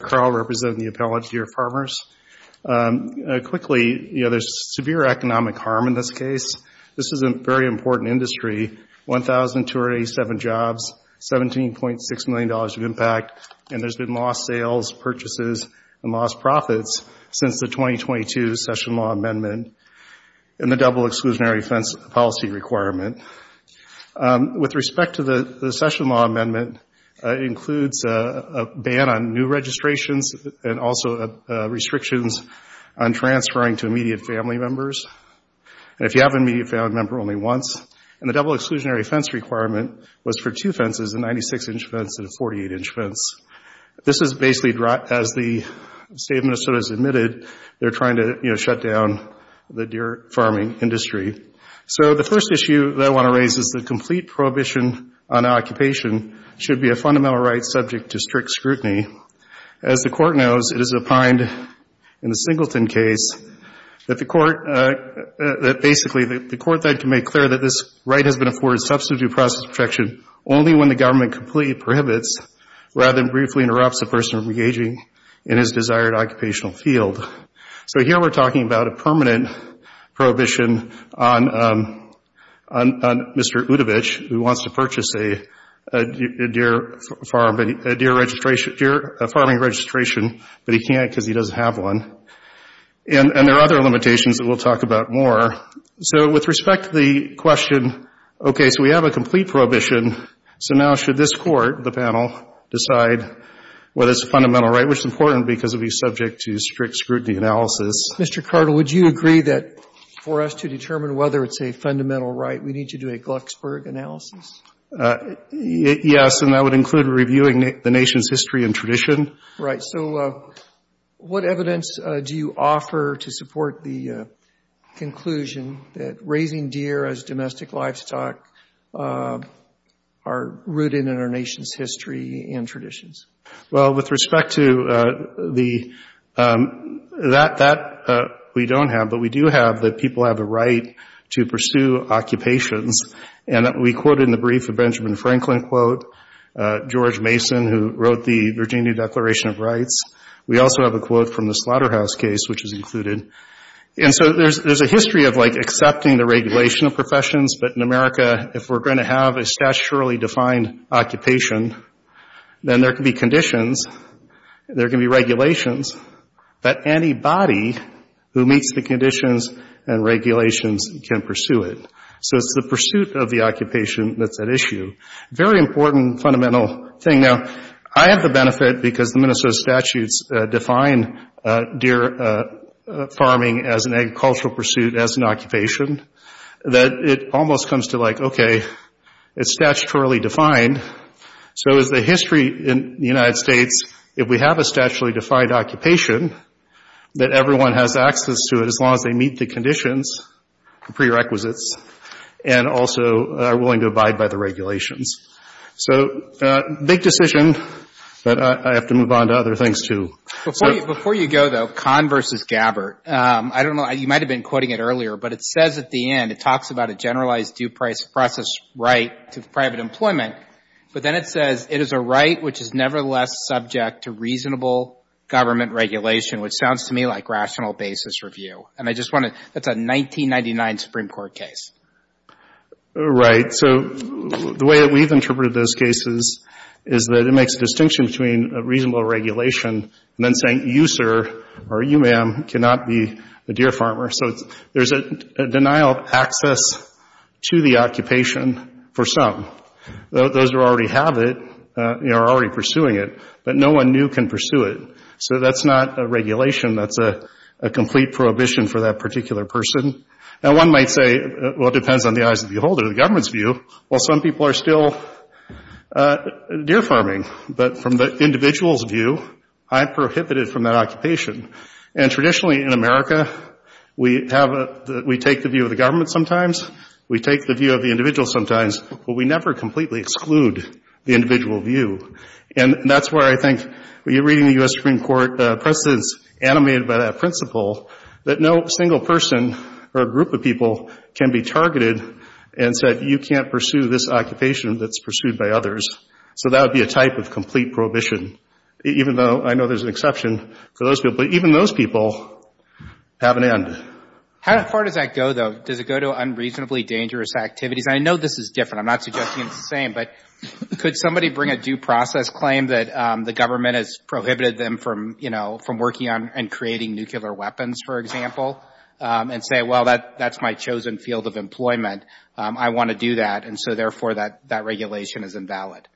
Carl, representing the Appellate Deer Farmers, quickly, you know, there's severe economic harm in this case. This is a very important industry, 1,287 jobs, $17.6 million of impact, and there's been lost sales, purchases, and lost profits since the 2022 Session Law Amendment and the Double Exclusionary Offense Policy Requirement. With respect to the Session Law Amendment, it includes a ban on new registrations and also restrictions on transferring to immediate family members. And if you have an immediate family member, only once. And the Double Exclusionary Offense Requirement was for two fences, a 96-inch fence and a 48-inch fence. This is basically as the State of Minnesota has admitted, they're trying to, you know, shut down the deer farming industry. So the first issue that I want to raise is the complete prohibition on occupation should be a fundamental right subject to strict scrutiny. As the Court knows, it is opined in the Singleton case that the Court, that basically the Court then can make clear that this right has been afforded substitute process protection only when the government completely prohibits rather than briefly interrupts the person engaging in his desired occupational field. So here we're talking about a permanent prohibition on Mr. Udovich, who wants to purchase a deer farm, a deer registration, deer farming registration, but he can't because he doesn't have one. And there are other limitations that we'll talk about more. So with respect to the question, okay, so we have a complete prohibition, so now should this Court, the panel, decide whether it's a fundamental right, which is important because it would be subject to strict scrutiny analysis. Mr. Cartl, would you agree that for us to determine whether it's a fundamental right, we need to do a Glucksburg analysis? Yes, and that would include reviewing the nation's history and tradition. Right. So what evidence do you offer to support the conclusion that raising deer as domestic livestock are rooted in our nation's history and traditions? Well, with respect to the, that we don't have, but we do have that people have a right to regulations, and we quoted in the brief a Benjamin Franklin quote, George Mason, who wrote the Virginia Declaration of Rights. We also have a quote from the Slaughterhouse case, which is included. And so there's a history of like accepting the regulation of professions, but in America, if we're going to have a statutorily defined occupation, then there can be conditions, there can be regulations, that anybody who meets the conditions and regulations can pursue it. So it's the pursuit of the occupation that's at issue. Very important fundamental thing. Now, I have the benefit, because the Minnesota statutes define deer farming as an agricultural pursuit, as an occupation, that it almost comes to like, okay, it's statutorily defined, so is the history in the United States, if we have a statutorily defined occupation, that everyone has access to it as long as they meet the conditions, the prerequisites, and also are willing to abide by the regulations. So big decision, but I have to move on to other things, too. Before you go, though, Kahn versus Gabbert. I don't know, you might have been quoting it earlier, but it says at the end, it talks about a generalized due price process right to private employment, but then it says, it is a right which is nevertheless subject to reasonable government regulation, which sounds to me like rational basis review. And I just want to, that's a 1999 Supreme Court case. Right. So the way that we've interpreted those cases is that it makes a distinction between a reasonable regulation and then saying, you, sir, or you, ma'am, cannot be a deer farmer. So there's a denial of access to the occupation for some. Those who already have it are already in pursuit. So that's not a regulation, that's a complete prohibition for that particular person. Now, one might say, well, it depends on the eyes of the beholder, the government's view. Well, some people are still deer farming. But from the individual's view, I'm prohibited from that occupation. And traditionally in America, we have a, we take the view of the government sometimes, we take the view of the individual sometimes, but we never completely exclude the individual view. And that's where I think, when you're reading the U.S. Supreme Court precedents animated by that principle, that no single person or group of people can be targeted and said, you can't pursue this occupation that's pursued by others. So that would be a type of complete prohibition, even though I know there's an exception for those people. But even those people have an end. How far does that go, though? Does it go to unreasonably dangerous activities? I know this is different. I'm not suggesting it's the same. But could somebody bring a due process claim that the government has prohibited them from, you know, from working on and creating nuclear weapons, for example, and say, well, that's my chosen field of employment. I want to do that. And so, therefore, that regulation is invalid.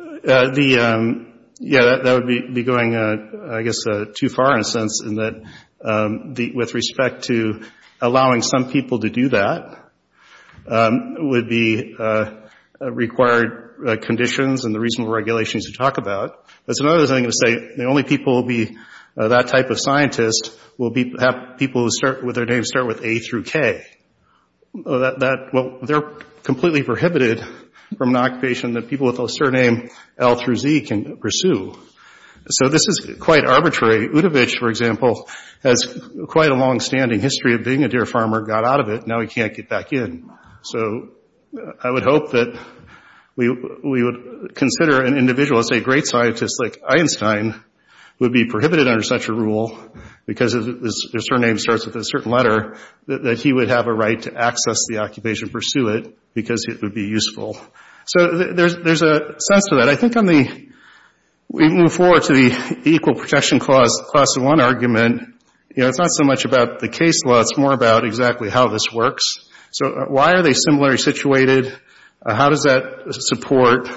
The, yeah, that would be going, I guess, too far in a sense in that, with respect to allowing some people to do that, would be required conditions and the reasonable regulations to talk about. That's another thing to say, the only people that will be that type of scientist will be people with their name start with A through K. That, well, they're completely prohibited from an occupation that people with a surname L through Z can pursue. So this is quite arbitrary. Udovich, for example, has quite a longstanding history of being a deer farmer, got out of it, now he can't get back in. So I would hope that we would consider an individual, say, a great scientist like Einstein, would be prohibited under such a rule because his surname starts with a certain letter, that he would have a right to access the occupation, pursue it, because it would be useful. So there's a sense to that. I think on the, we move forward to the equal protection clause in one argument, you know, it's not so much about the case law, it's more about exactly how this works. So why are they similarly situated? How does that support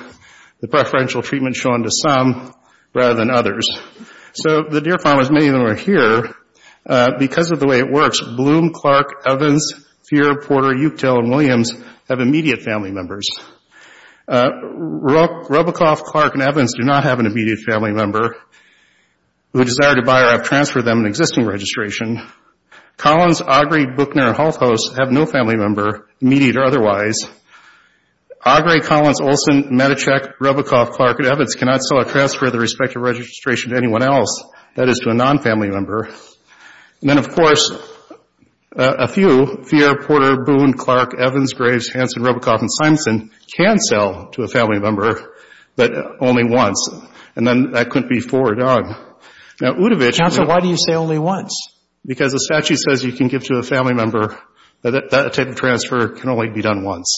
the preferential treatment shown to some rather than others? So the deer farmers, many of them are here because of the way it works. Bloom, Clark, Evans, Feer, Porter, Uchtdell, and Williams have immediate family members. Robicoff, Clark, and Evans do not have an immediate family member. Who desire to buy or have transferred them an existing registration. Collins, Augrey, Buchner, and Halthose have no family member, immediate or otherwise. Augrey, Collins, Olson, Medichick, Robicoff, Clark, and Evans cannot sell or transfer their respective registration to anyone else, that is to a non-family member. Then of course, a few, Feer, Porter, Boone, Clark, Evans, Graves, Hanson, Robicoff, and Hanson can sell to a family member, but only once, and then that couldn't be forwarded on. Now, Udovich- Counsel, why do you say only once? Because the statute says you can give to a family member, but that type of transfer can only be done once.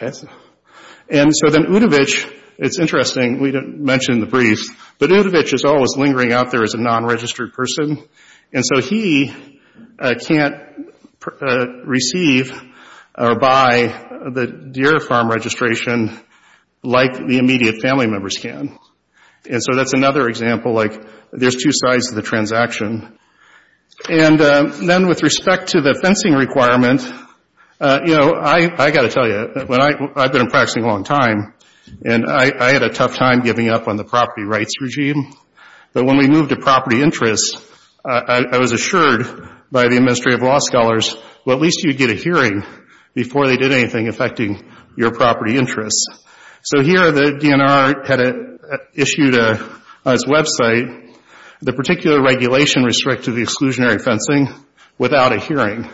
And so then Udovich, it's interesting, we didn't mention in the brief, but Udovich is always lingering out there as a non-registered person, and so he can't receive or buy the Deere farm registration like the immediate family members can. And so that's another example, like there's two sides to the transaction. And then with respect to the fencing requirement, you know, I got to tell you, I've been practicing a long time, and I had a tough time giving up on the property rights regime, but when we moved to property interests, I was assured by the Administrative Law Scholars, well, at least you'd get a hearing before they did anything affecting your property interests. So here, the DNR had issued on its website, the particular regulation restricted the exclusionary fencing without a hearing.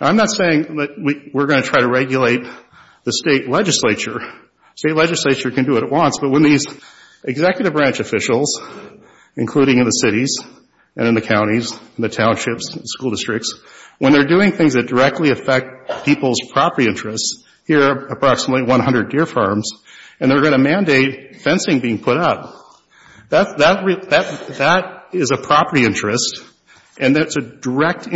I'm not saying that we're going to try to regulate the state legislature. The state legislature can do what it wants, but when these executive branch officials, including in the cities and in the counties, in the townships, school districts, when they're doing things that directly affect people's property interests, here are approximately 100 Deere farms, and they're going to mandate fencing being put up. That is a property interest, and that's a direct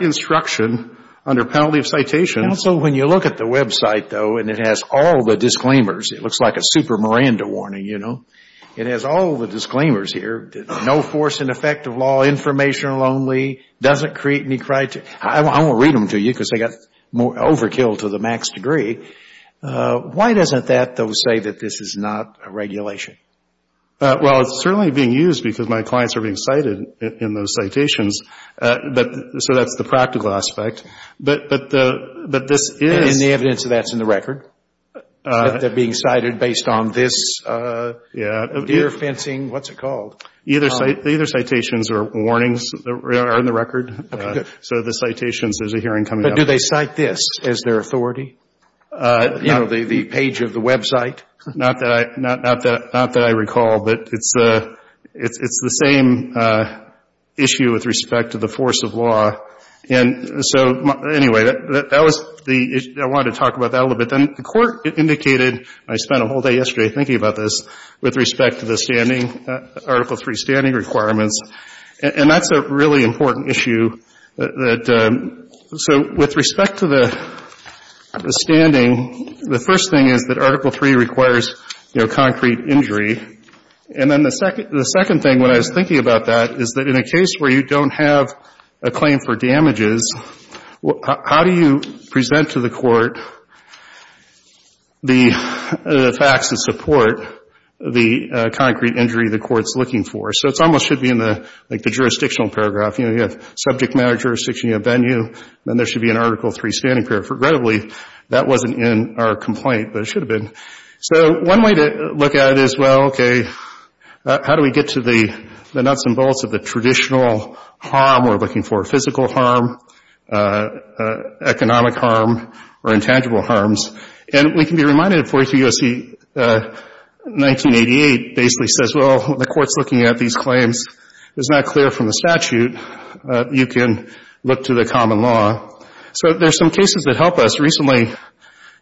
instruction under penalty of citation. Also when you look at the website, though, and it has all the disclaimers, it looks like a super Miranda warning, you know. It has all the disclaimers here, no force in effect of law, informational only, doesn't create any criteria. I won't read them to you because they got overkill to the max degree. Why doesn't that, though, say that this is not a regulation? Well, it's certainly being used because my clients are being cited in those citations, so that's the practical aspect, but this is... And the evidence of that's in the record? That they're being cited based on this Deere fencing, what's it called? Either citations or warnings are in the record, so the citations, there's a hearing coming up. But do they cite this as their authority? You know, the page of the website? Not that I recall, but it's the same issue with respect to the force of law, and so anyway, that was the issue. I wanted to talk about that a little bit. Then the Court indicated, I spent a whole day yesterday thinking about this, with respect to the standing, Article 3 standing requirements, and that's a really important issue that... So with respect to the standing, the first thing is that Article 3 requires, you know, concrete injury, and then the second thing, when I was thinking about that, is that in a case where you don't have a claim for damages, how do you present to the Court the facts that support the concrete injury the Court's looking for? So it almost should be in the jurisdictional paragraph, you know, you have subject matter jurisdiction, you have venue, then there should be an Article 3 standing paragraph. Regrettably, that wasn't in our complaint, but it should have been. So one way to look at it is, well, okay, how do we get to the nuts and bolts of the traditional harm we're looking for, physical harm, economic harm, or intangible harms? And we can be reminded of 43 U.S.C. 1988 basically says, well, the Court's looking at these claims, it's not clear from the statute, you can look to the common law. So there's some cases that help us. Recently,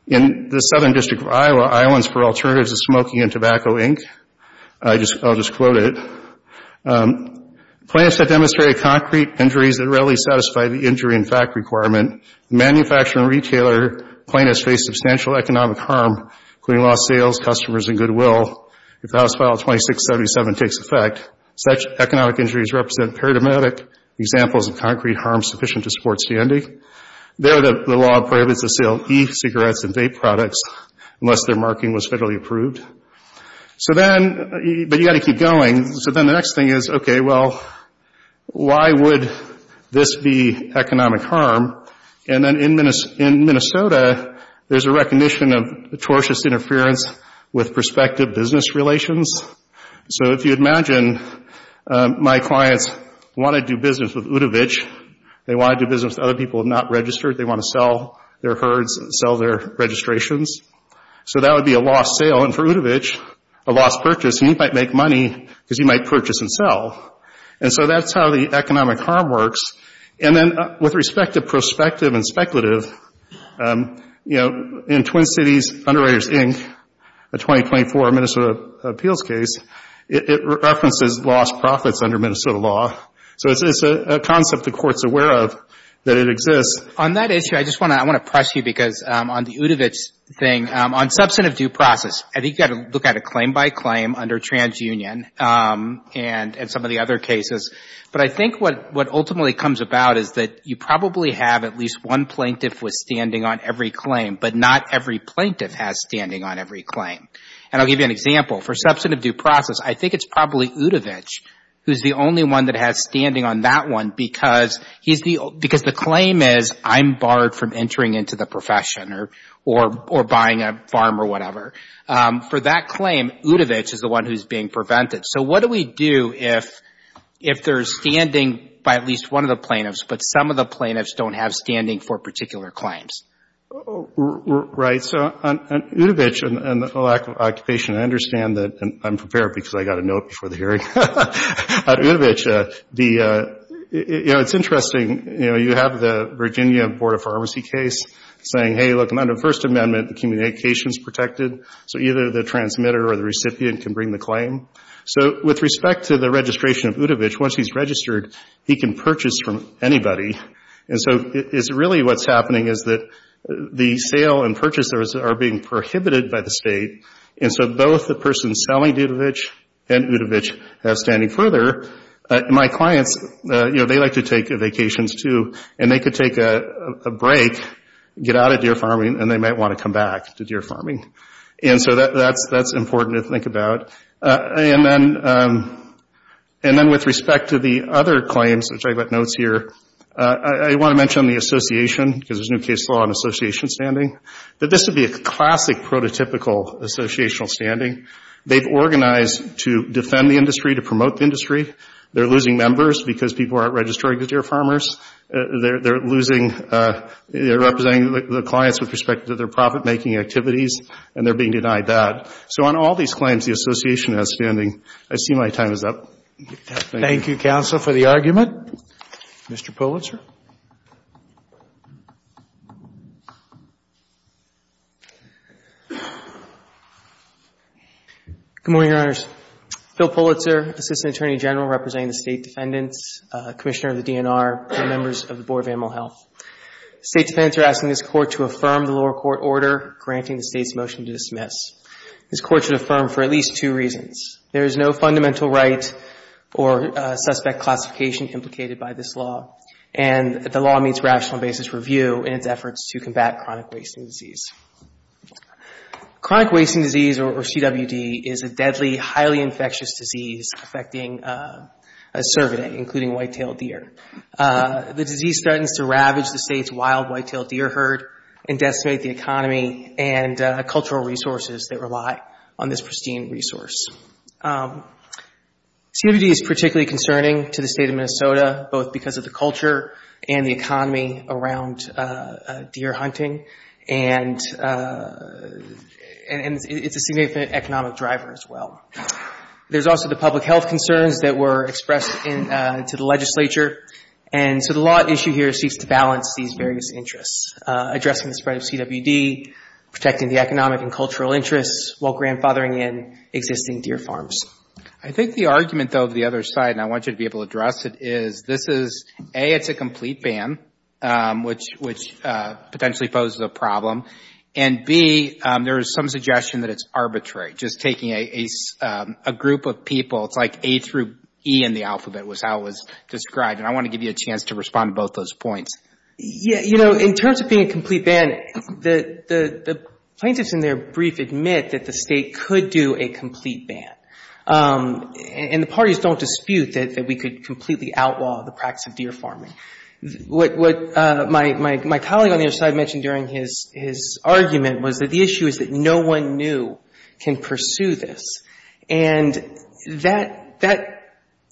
in the Southern District of Iowa, Islands for Alternatives to Smoking and Tobacco, Inc., I'll just quote it, plaintiffs have demonstrated concrete injuries that readily satisfy the injury and fact requirement. Manufacturer and retailer plaintiffs face substantial economic harm, including lost sales, customers and goodwill, if House File 2677 takes effect. Such economic injuries represent paradigmatic examples of concrete harm sufficient to support standing. There, the law prohibits the sale of e-cigarettes and vape products unless their marking was federally approved. So then, but you've got to keep going. So then the next thing is, okay, well, why would this be economic harm? And then in Minnesota, there's a recognition of atrocious interference with prospective business relations. So if you imagine my clients want to do business with Udovich, they want to do business with other people not registered, they want to sell their herds, sell their registrations. So that would be a lost sale. And for Udovich, a lost purchase. And you might make money because you might purchase and sell. And so that's how the economic harm works. And then with respect to prospective and speculative, you know, in Twin Cities Underwriters, Inc., a 2024 Minnesota appeals case, it references lost profits under Minnesota law. So it's a concept the Court's aware of that it exists. On that issue, I just want to, I want to press you because on the Udovich thing, on substantive due process, I think you've got to look at it claim by claim under TransUnion and some of the other cases. But I think what ultimately comes about is that you probably have at least one plaintiff with standing on every claim, but not every plaintiff has standing on every claim. And I'll give you an example. For substantive due process, I think it's probably Udovich who's the only one that has standing on that one because he's the, because the claim is I'm barred from entering into the profession or, or, or buying a farm or whatever. For that claim, Udovich is the one who's being prevented. So what do we do if, if there's standing by at least one of the plaintiffs, but some of the plaintiffs don't have standing for particular claims? Right. So on Udovich and the lack of occupation, I understand that, and I'm prepared because I got a note before the hearing. At Udovich, the, you know, it's interesting, you know, you have the Virginia Board of Pharmacy case saying, hey, look, under the First Amendment, the communication is protected, so either the transmitter or the recipient can bring the claim. So with respect to the registration of Udovich, once he's registered, he can purchase from anybody. And so it's really what's happening is that the sale and purchase are being prohibited by the state, and so both the person selling Udovich and Udovich have standing further. My clients, you know, they like to take vacations, too, and they could take a break, get out of deer farming, and they might want to come back to deer farming. And so that's, that's important to think about. And then, and then with respect to the other claims, which I've got notes here, I want to mention the association, because there's a new case law on association standing, that this would be a classic prototypical associational standing. They've organized to defend the industry, to promote the industry. They're losing members because people aren't registering to deer farmers. They're losing, they're representing the clients with respect to their profit-making activities, and they're being denied that. So on all these claims, the association has standing. I see my time is up. Thank you, counsel, for the argument. Mr. Pulitzer. Good morning, Your Honors. Phil Pulitzer, Assistant Attorney General representing the State Defendants, Commissioner of the DNR, and members of the Board of Animal Health. The State Defendants are asking this Court to affirm the lower court order granting the State's motion to dismiss. This Court should affirm for at least two reasons. There is no fundamental right or suspect classification implicated by this law, and the law meets rational basis for view in its efforts to combat chronic wasting disease. Chronic wasting disease, or CWD, is a deadly, highly infectious disease affecting a cervidae, including white-tailed deer. The disease threatens to ravage the State's wild white-tailed deer herd and decimate the economy and cultural resources that rely on this pristine resource. CWD is particularly concerning to the State of Minnesota, both because of the culture and the economy around deer hunting, and it's a significant economic driver as well. There's also the public health concerns that were expressed to the legislature, and so the law at issue here seeks to balance these various interests, addressing the spread of CWD, protecting the economic and cultural interests, while grandfathering in existing deer farms. I think the argument, though, to the other side, and I want you to be able to address it, is this is, A, it's a complete ban, which potentially poses a problem, and B, there is some suggestion that it's arbitrary, just taking a group of people, it's like A through E in the alphabet, was how it was described, and I want to give you a chance to respond to both those points. Yeah, you know, in terms of being a complete ban, the plaintiffs in their brief admit that the State could do a complete ban, and the parties don't dispute that we could completely outlaw the practice of deer farming. What my colleague on the other side mentioned during his argument was that the issue is that no one new can pursue this, and that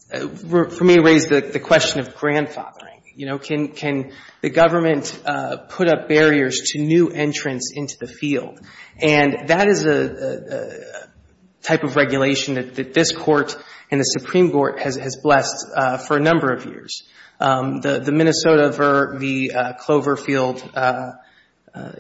for me raised the question of grandfathering. You know, can the government put up barriers to new entrants into the field? And that is a type of regulation that this Court and the Supreme Court has blessed for a number of years. The Minnesota v. Cloverfield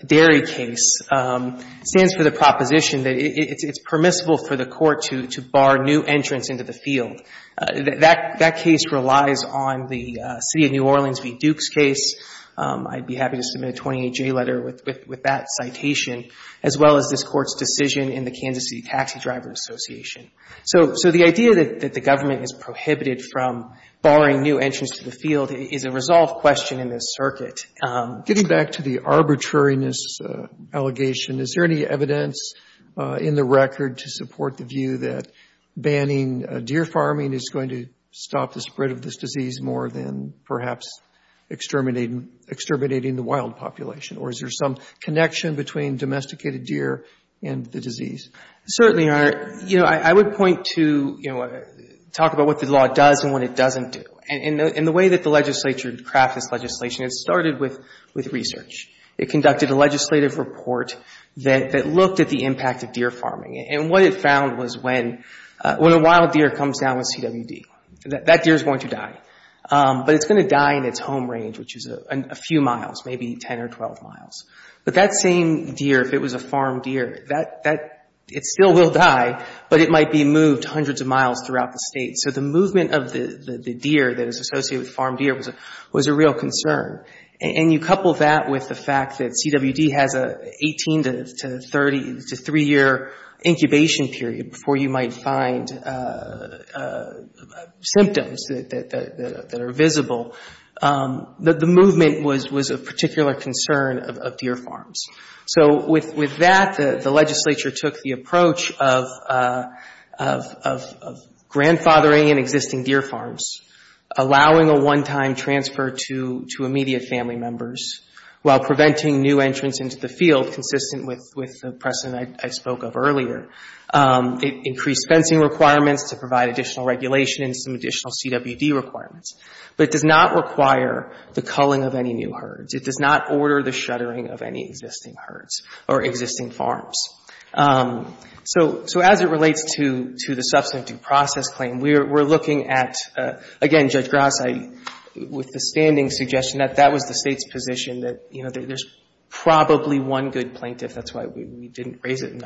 dairy case stands for the proposition that it's permissible for the Court to bar new entrants into the field. That case relies on the City of New Orleans v. Duke's case. I'd be happy to submit a 28-J letter with that citation, as well as this Court's decision in the Kansas City Taxi Driver Association. So the idea that the government is prohibited from barring new entrants to the field is a resolved question in this circuit. Getting back to the arbitrariness allegation, is there any evidence in the record to support the view that banning deer farming is going to stop the spread of this disease more than perhaps exterminating the wild population? Or is there some connection between domesticated deer and the disease? Certainly, Your Honor. You know, I would point to, you know, talk about what the law does and what it doesn't do. And the way that the legislature crafted this legislation, it started with research. It conducted a legislative report that looked at the impact of deer farming. And what it found was when a wild deer comes down with CWD, that deer is going to die. But it's going to die in its home range, which is a few miles, maybe 10 or 12 miles. But that same deer, if it was a farmed deer, it still will die, but it might be moved hundreds of miles throughout the state. So the movement of the deer that is associated with farmed deer was a real concern. And you couple that with the fact that CWD has a 18 to 30 to 3-year incubation period before you might find symptoms that are visible. The movement was a particular concern of deer farms. So with that, the legislature took the approach of grandfathering in existing deer farms, allowing a one-time transfer to immediate family members, while preventing new entrants into the field consistent with the precedent I spoke of earlier. It increased fencing requirements to provide additional regulation and some additional CWD requirements. But it does not require the culling of any new herds. It does not order the shuttering of any existing herds or existing farms. So as it relates to the substantive process claim, we're looking at, again, Judge Grassley, with the standing suggestion that that was the State's position, that there's probably one good plaintiff. That's why we didn't raise it in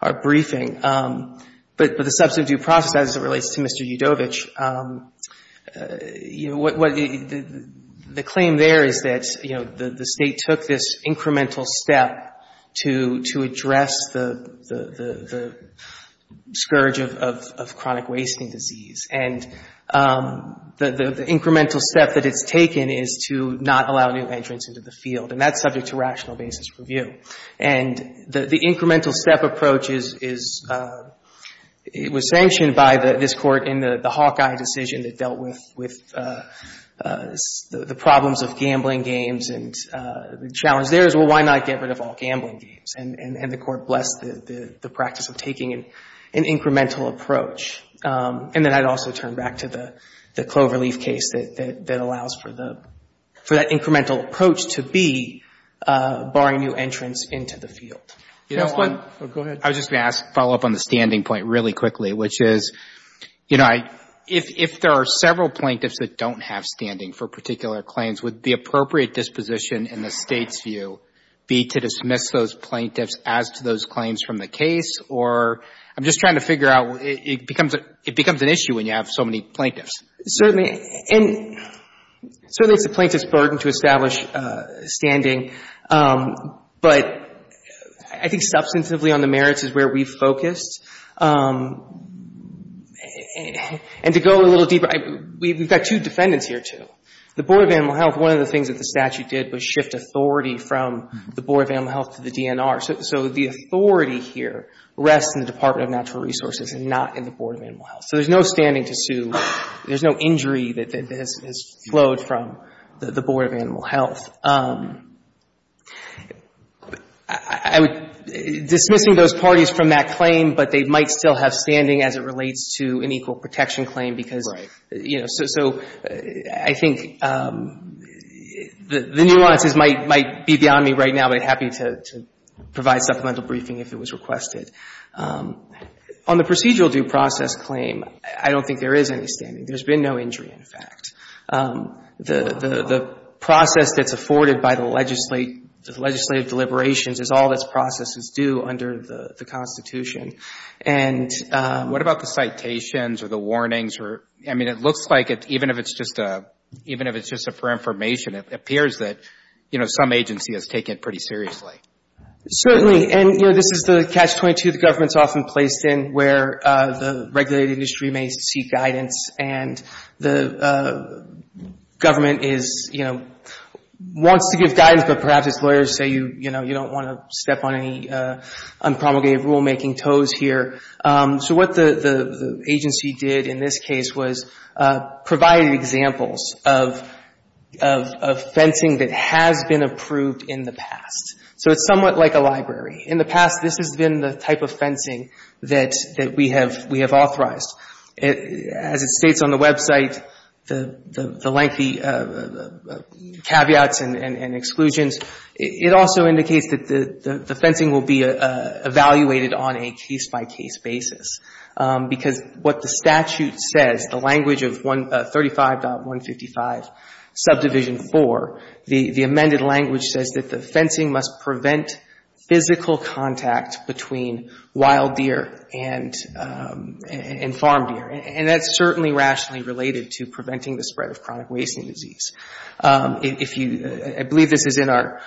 our briefing. But the substantive process, as it relates to Mr. Udovich, you know, what the claim there is that, you know, the State took this incremental step to address the scourge of chronic wasting disease. And the incremental step that it's taken is to not allow new entrants into the field. And that's subject to rational basis review. And the incremental step approach is, it was sanctioned by this Court in the Hawkeye decision that dealt with the problems of gambling games. And the challenge there is, well, why not get rid of all gambling games? And the Court blessed the practice of taking an incremental approach. And then I'd also turn back to the Cloverleaf case that allows for that incremental approach to be barring new entrants into the field. You know, on the next one, I was just going to ask, follow up on the standing point really quickly, which is, you know, if there are several plaintiffs that don't have standing for particular claims, would the appropriate disposition in the State's view be to dismiss those plaintiffs as to those claims from the case? Or I'm just trying to figure out, it becomes an issue when you have so many plaintiffs. Certainly. And certainly it's the plaintiff's burden to establish standing. But I think substantively on the merits is where we've focused. And to go a little deeper, we've got two defendants here, too. The Board of Animal Health, one of the things that the statute did was shift authority from the Board of Animal Health to the DNR. So the authority here rests in the Department of Natural Resources and not in the Board of Animal Health. So there's no standing to sue. There's no injury that has flowed from the Board of Animal Health. Dismissing those parties from that claim, but they might still have standing as it relates to an equal protection claim because, you know, so I think the nuances might be beyond me right now, but I'm happy to provide supplemental briefing if it was requested. On the procedural due process claim, I don't think there is any standing. There's been no injury, in fact. The process that's afforded by the legislative deliberations is all that's processed as due under the Constitution. And What about the citations or the warnings? I mean, it looks like even if it's just for information, it appears that, you know, some agency has taken it pretty seriously. Certainly. And, you know, this is the catch-22 the government's often placed in where the regulated industry may seek guidance and the government is, you know, wants to give guidance but perhaps its lawyers say, you know, you don't want to step on any unpromulgated rule-making toes here. So what the agency did in this case was provide examples of fencing that has been approved in the past. So it's somewhat like a library. In the past, this has been the type of fencing that we have authorized. As it states on the website, the lengthy caveats and exclusions, it also indicates that the fencing will be evaluated on a case-by-case basis. Because what the statute says, the language of 35.155 subdivision 4, the authority amended language says that the fencing must prevent physical contact between wild deer and farm deer. And that's certainly rationally related to preventing the spread of chronic wasting disease. If you, I believe this is in our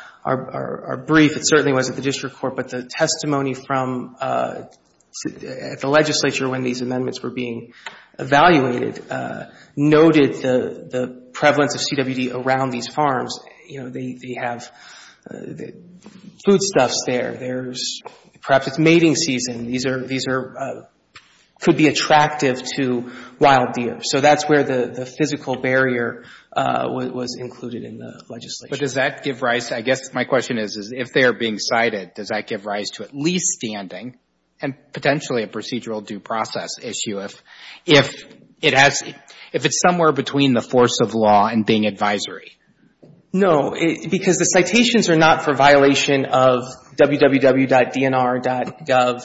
brief, it certainly was at the district court, but the testimony from the legislature when these amendments were being evaluated noted the have foodstuffs there, there's, perhaps it's mating season. These are, these are, could be attractive to wild deer. So that's where the physical barrier was included in the legislation. But does that give rise, I guess my question is, if they are being cited, does that give rise to at least standing and potentially a procedural due process issue if it has, if it's somewhere between the force of law and being advisory? No. Because the citations are not for violation of www.dnr.gov.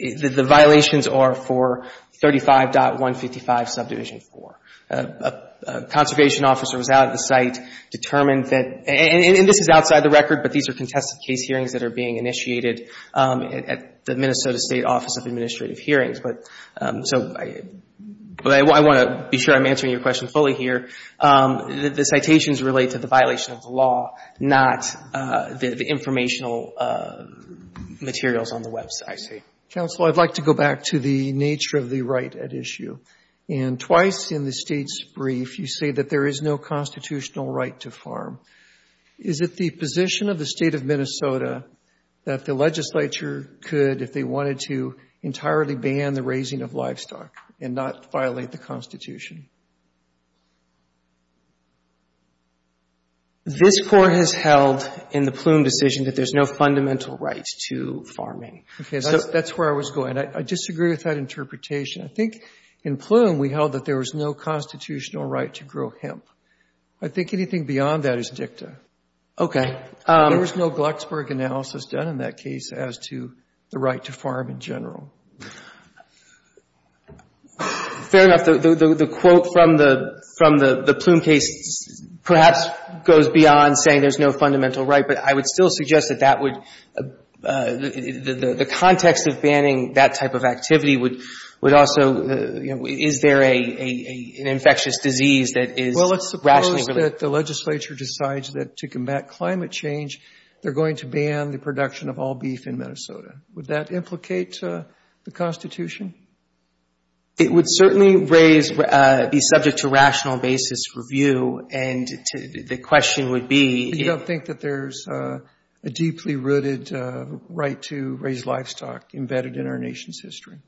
The violations are for 35.155 subdivision 4. A conservation officer was out at the site determined that, and this is outside the record, but these are contested case hearings that are being initiated at the Minnesota State Office of Administrative Hearings. But so I want to be sure I'm answering your question fully here. The citations relate to the violation of the law, not the informational materials on the website. Counsel, I'd like to go back to the nature of the right at issue. And twice in the state's brief, you say that there is no constitutional right to farm. Is it the position of the state of Minnesota that the legislature could, if they wanted to, entirely ban the raising of livestock and not violate the Constitution? This Court has held in the Plume decision that there's no fundamental right to farming. Okay. So that's where I was going. I disagree with that interpretation. I think in Plume we held that there was no constitutional right to grow hemp. I think anything beyond that is dicta. Okay. There was no Glucksburg analysis done in that case as to the right to farm in general. Fair enough. The quote from the Plume case perhaps goes beyond saying there's no fundamental right. But I would still suggest that that would, the context of banning that type of activity would also, you know, is there an infectious disease that is rationally related? Well, let's suppose that the legislature decides that to combat climate change, they're going to ban the production of all beef in Minnesota. Would that implicate the Constitution? It would certainly raise, be subject to rational basis review, and the question would be You don't think that there's a deeply rooted right to raise livestock embedded in our nation's history?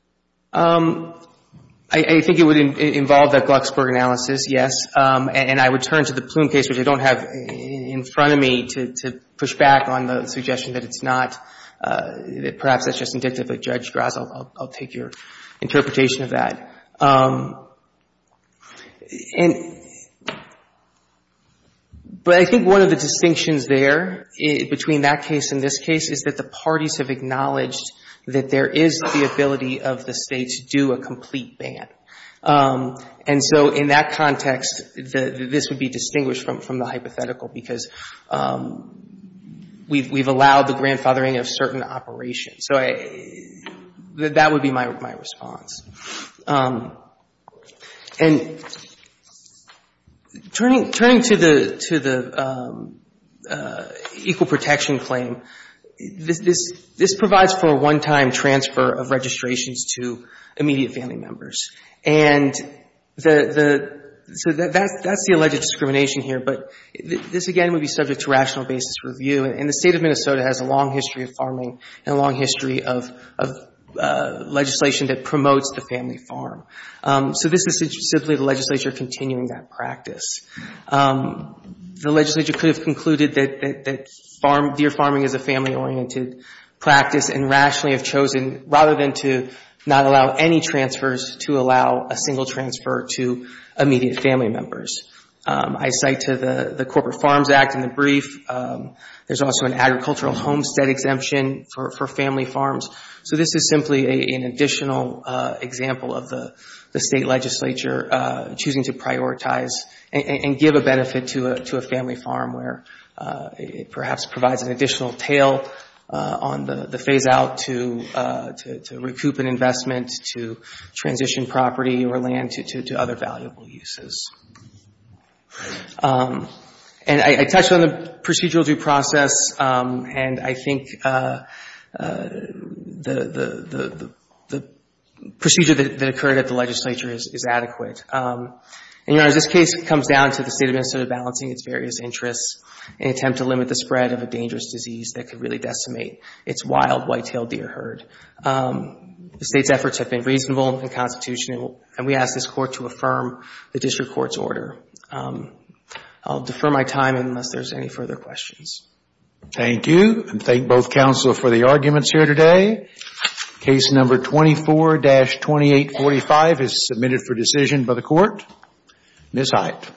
I think it would involve that Glucksburg analysis, yes. And I would turn to the Plume case, which I don't have in front of me to push back on the suggestion that it's not, that perhaps that's just indicative of Judge Grasso. I'll take your interpretation of that. But I think one of the distinctions there between that case and this case is that the parties have acknowledged that there is the ability of the States to do a complete ban. And so in that context, this would be distinguished from the hypothetical, because we've allowed the grandfathering of certain operations. So that would be my response. And turning to the equal protection claim, this provides for a one-time transfer of registrations to immediate family members. And so that's the alleged discrimination here. But this, again, would be subject to rational basis review. And the State of Minnesota has a long history of farming and a long history of legislation that promotes the family farm. So this is simply the legislature continuing that practice. The legislature could have concluded that deer farming is a family-oriented practice and rationally have chosen, rather than to not allow any transfers, to allow a single transfer to immediate family members. I cite to the Corporate Farms Act in the brief, there's also an agricultural homestead exemption for family farms. So this is simply an additional example of the State legislature choosing to prioritize and give a benefit to a family farm where it perhaps provides an additional tail on the phase-out to recoup an investment, to transition property or land to other valuable uses. And I touched on the procedural due process. And I think the procedure that occurred at the legislature is adequate. And, Your Honors, this case comes down to the State of Minnesota balancing its various interests in an attempt to limit the spread of a dangerous disease that could really decimate its wild, white-tailed deer herd. The State's efforts have been reasonable and constitutional. And we ask this Court to affirm the district court's order. I'll defer my time unless there's any further questions. Thank you. And thank both Counsel for the arguments here today. Case number 24-2845 is submitted for decision by the Court. Miss Hyte.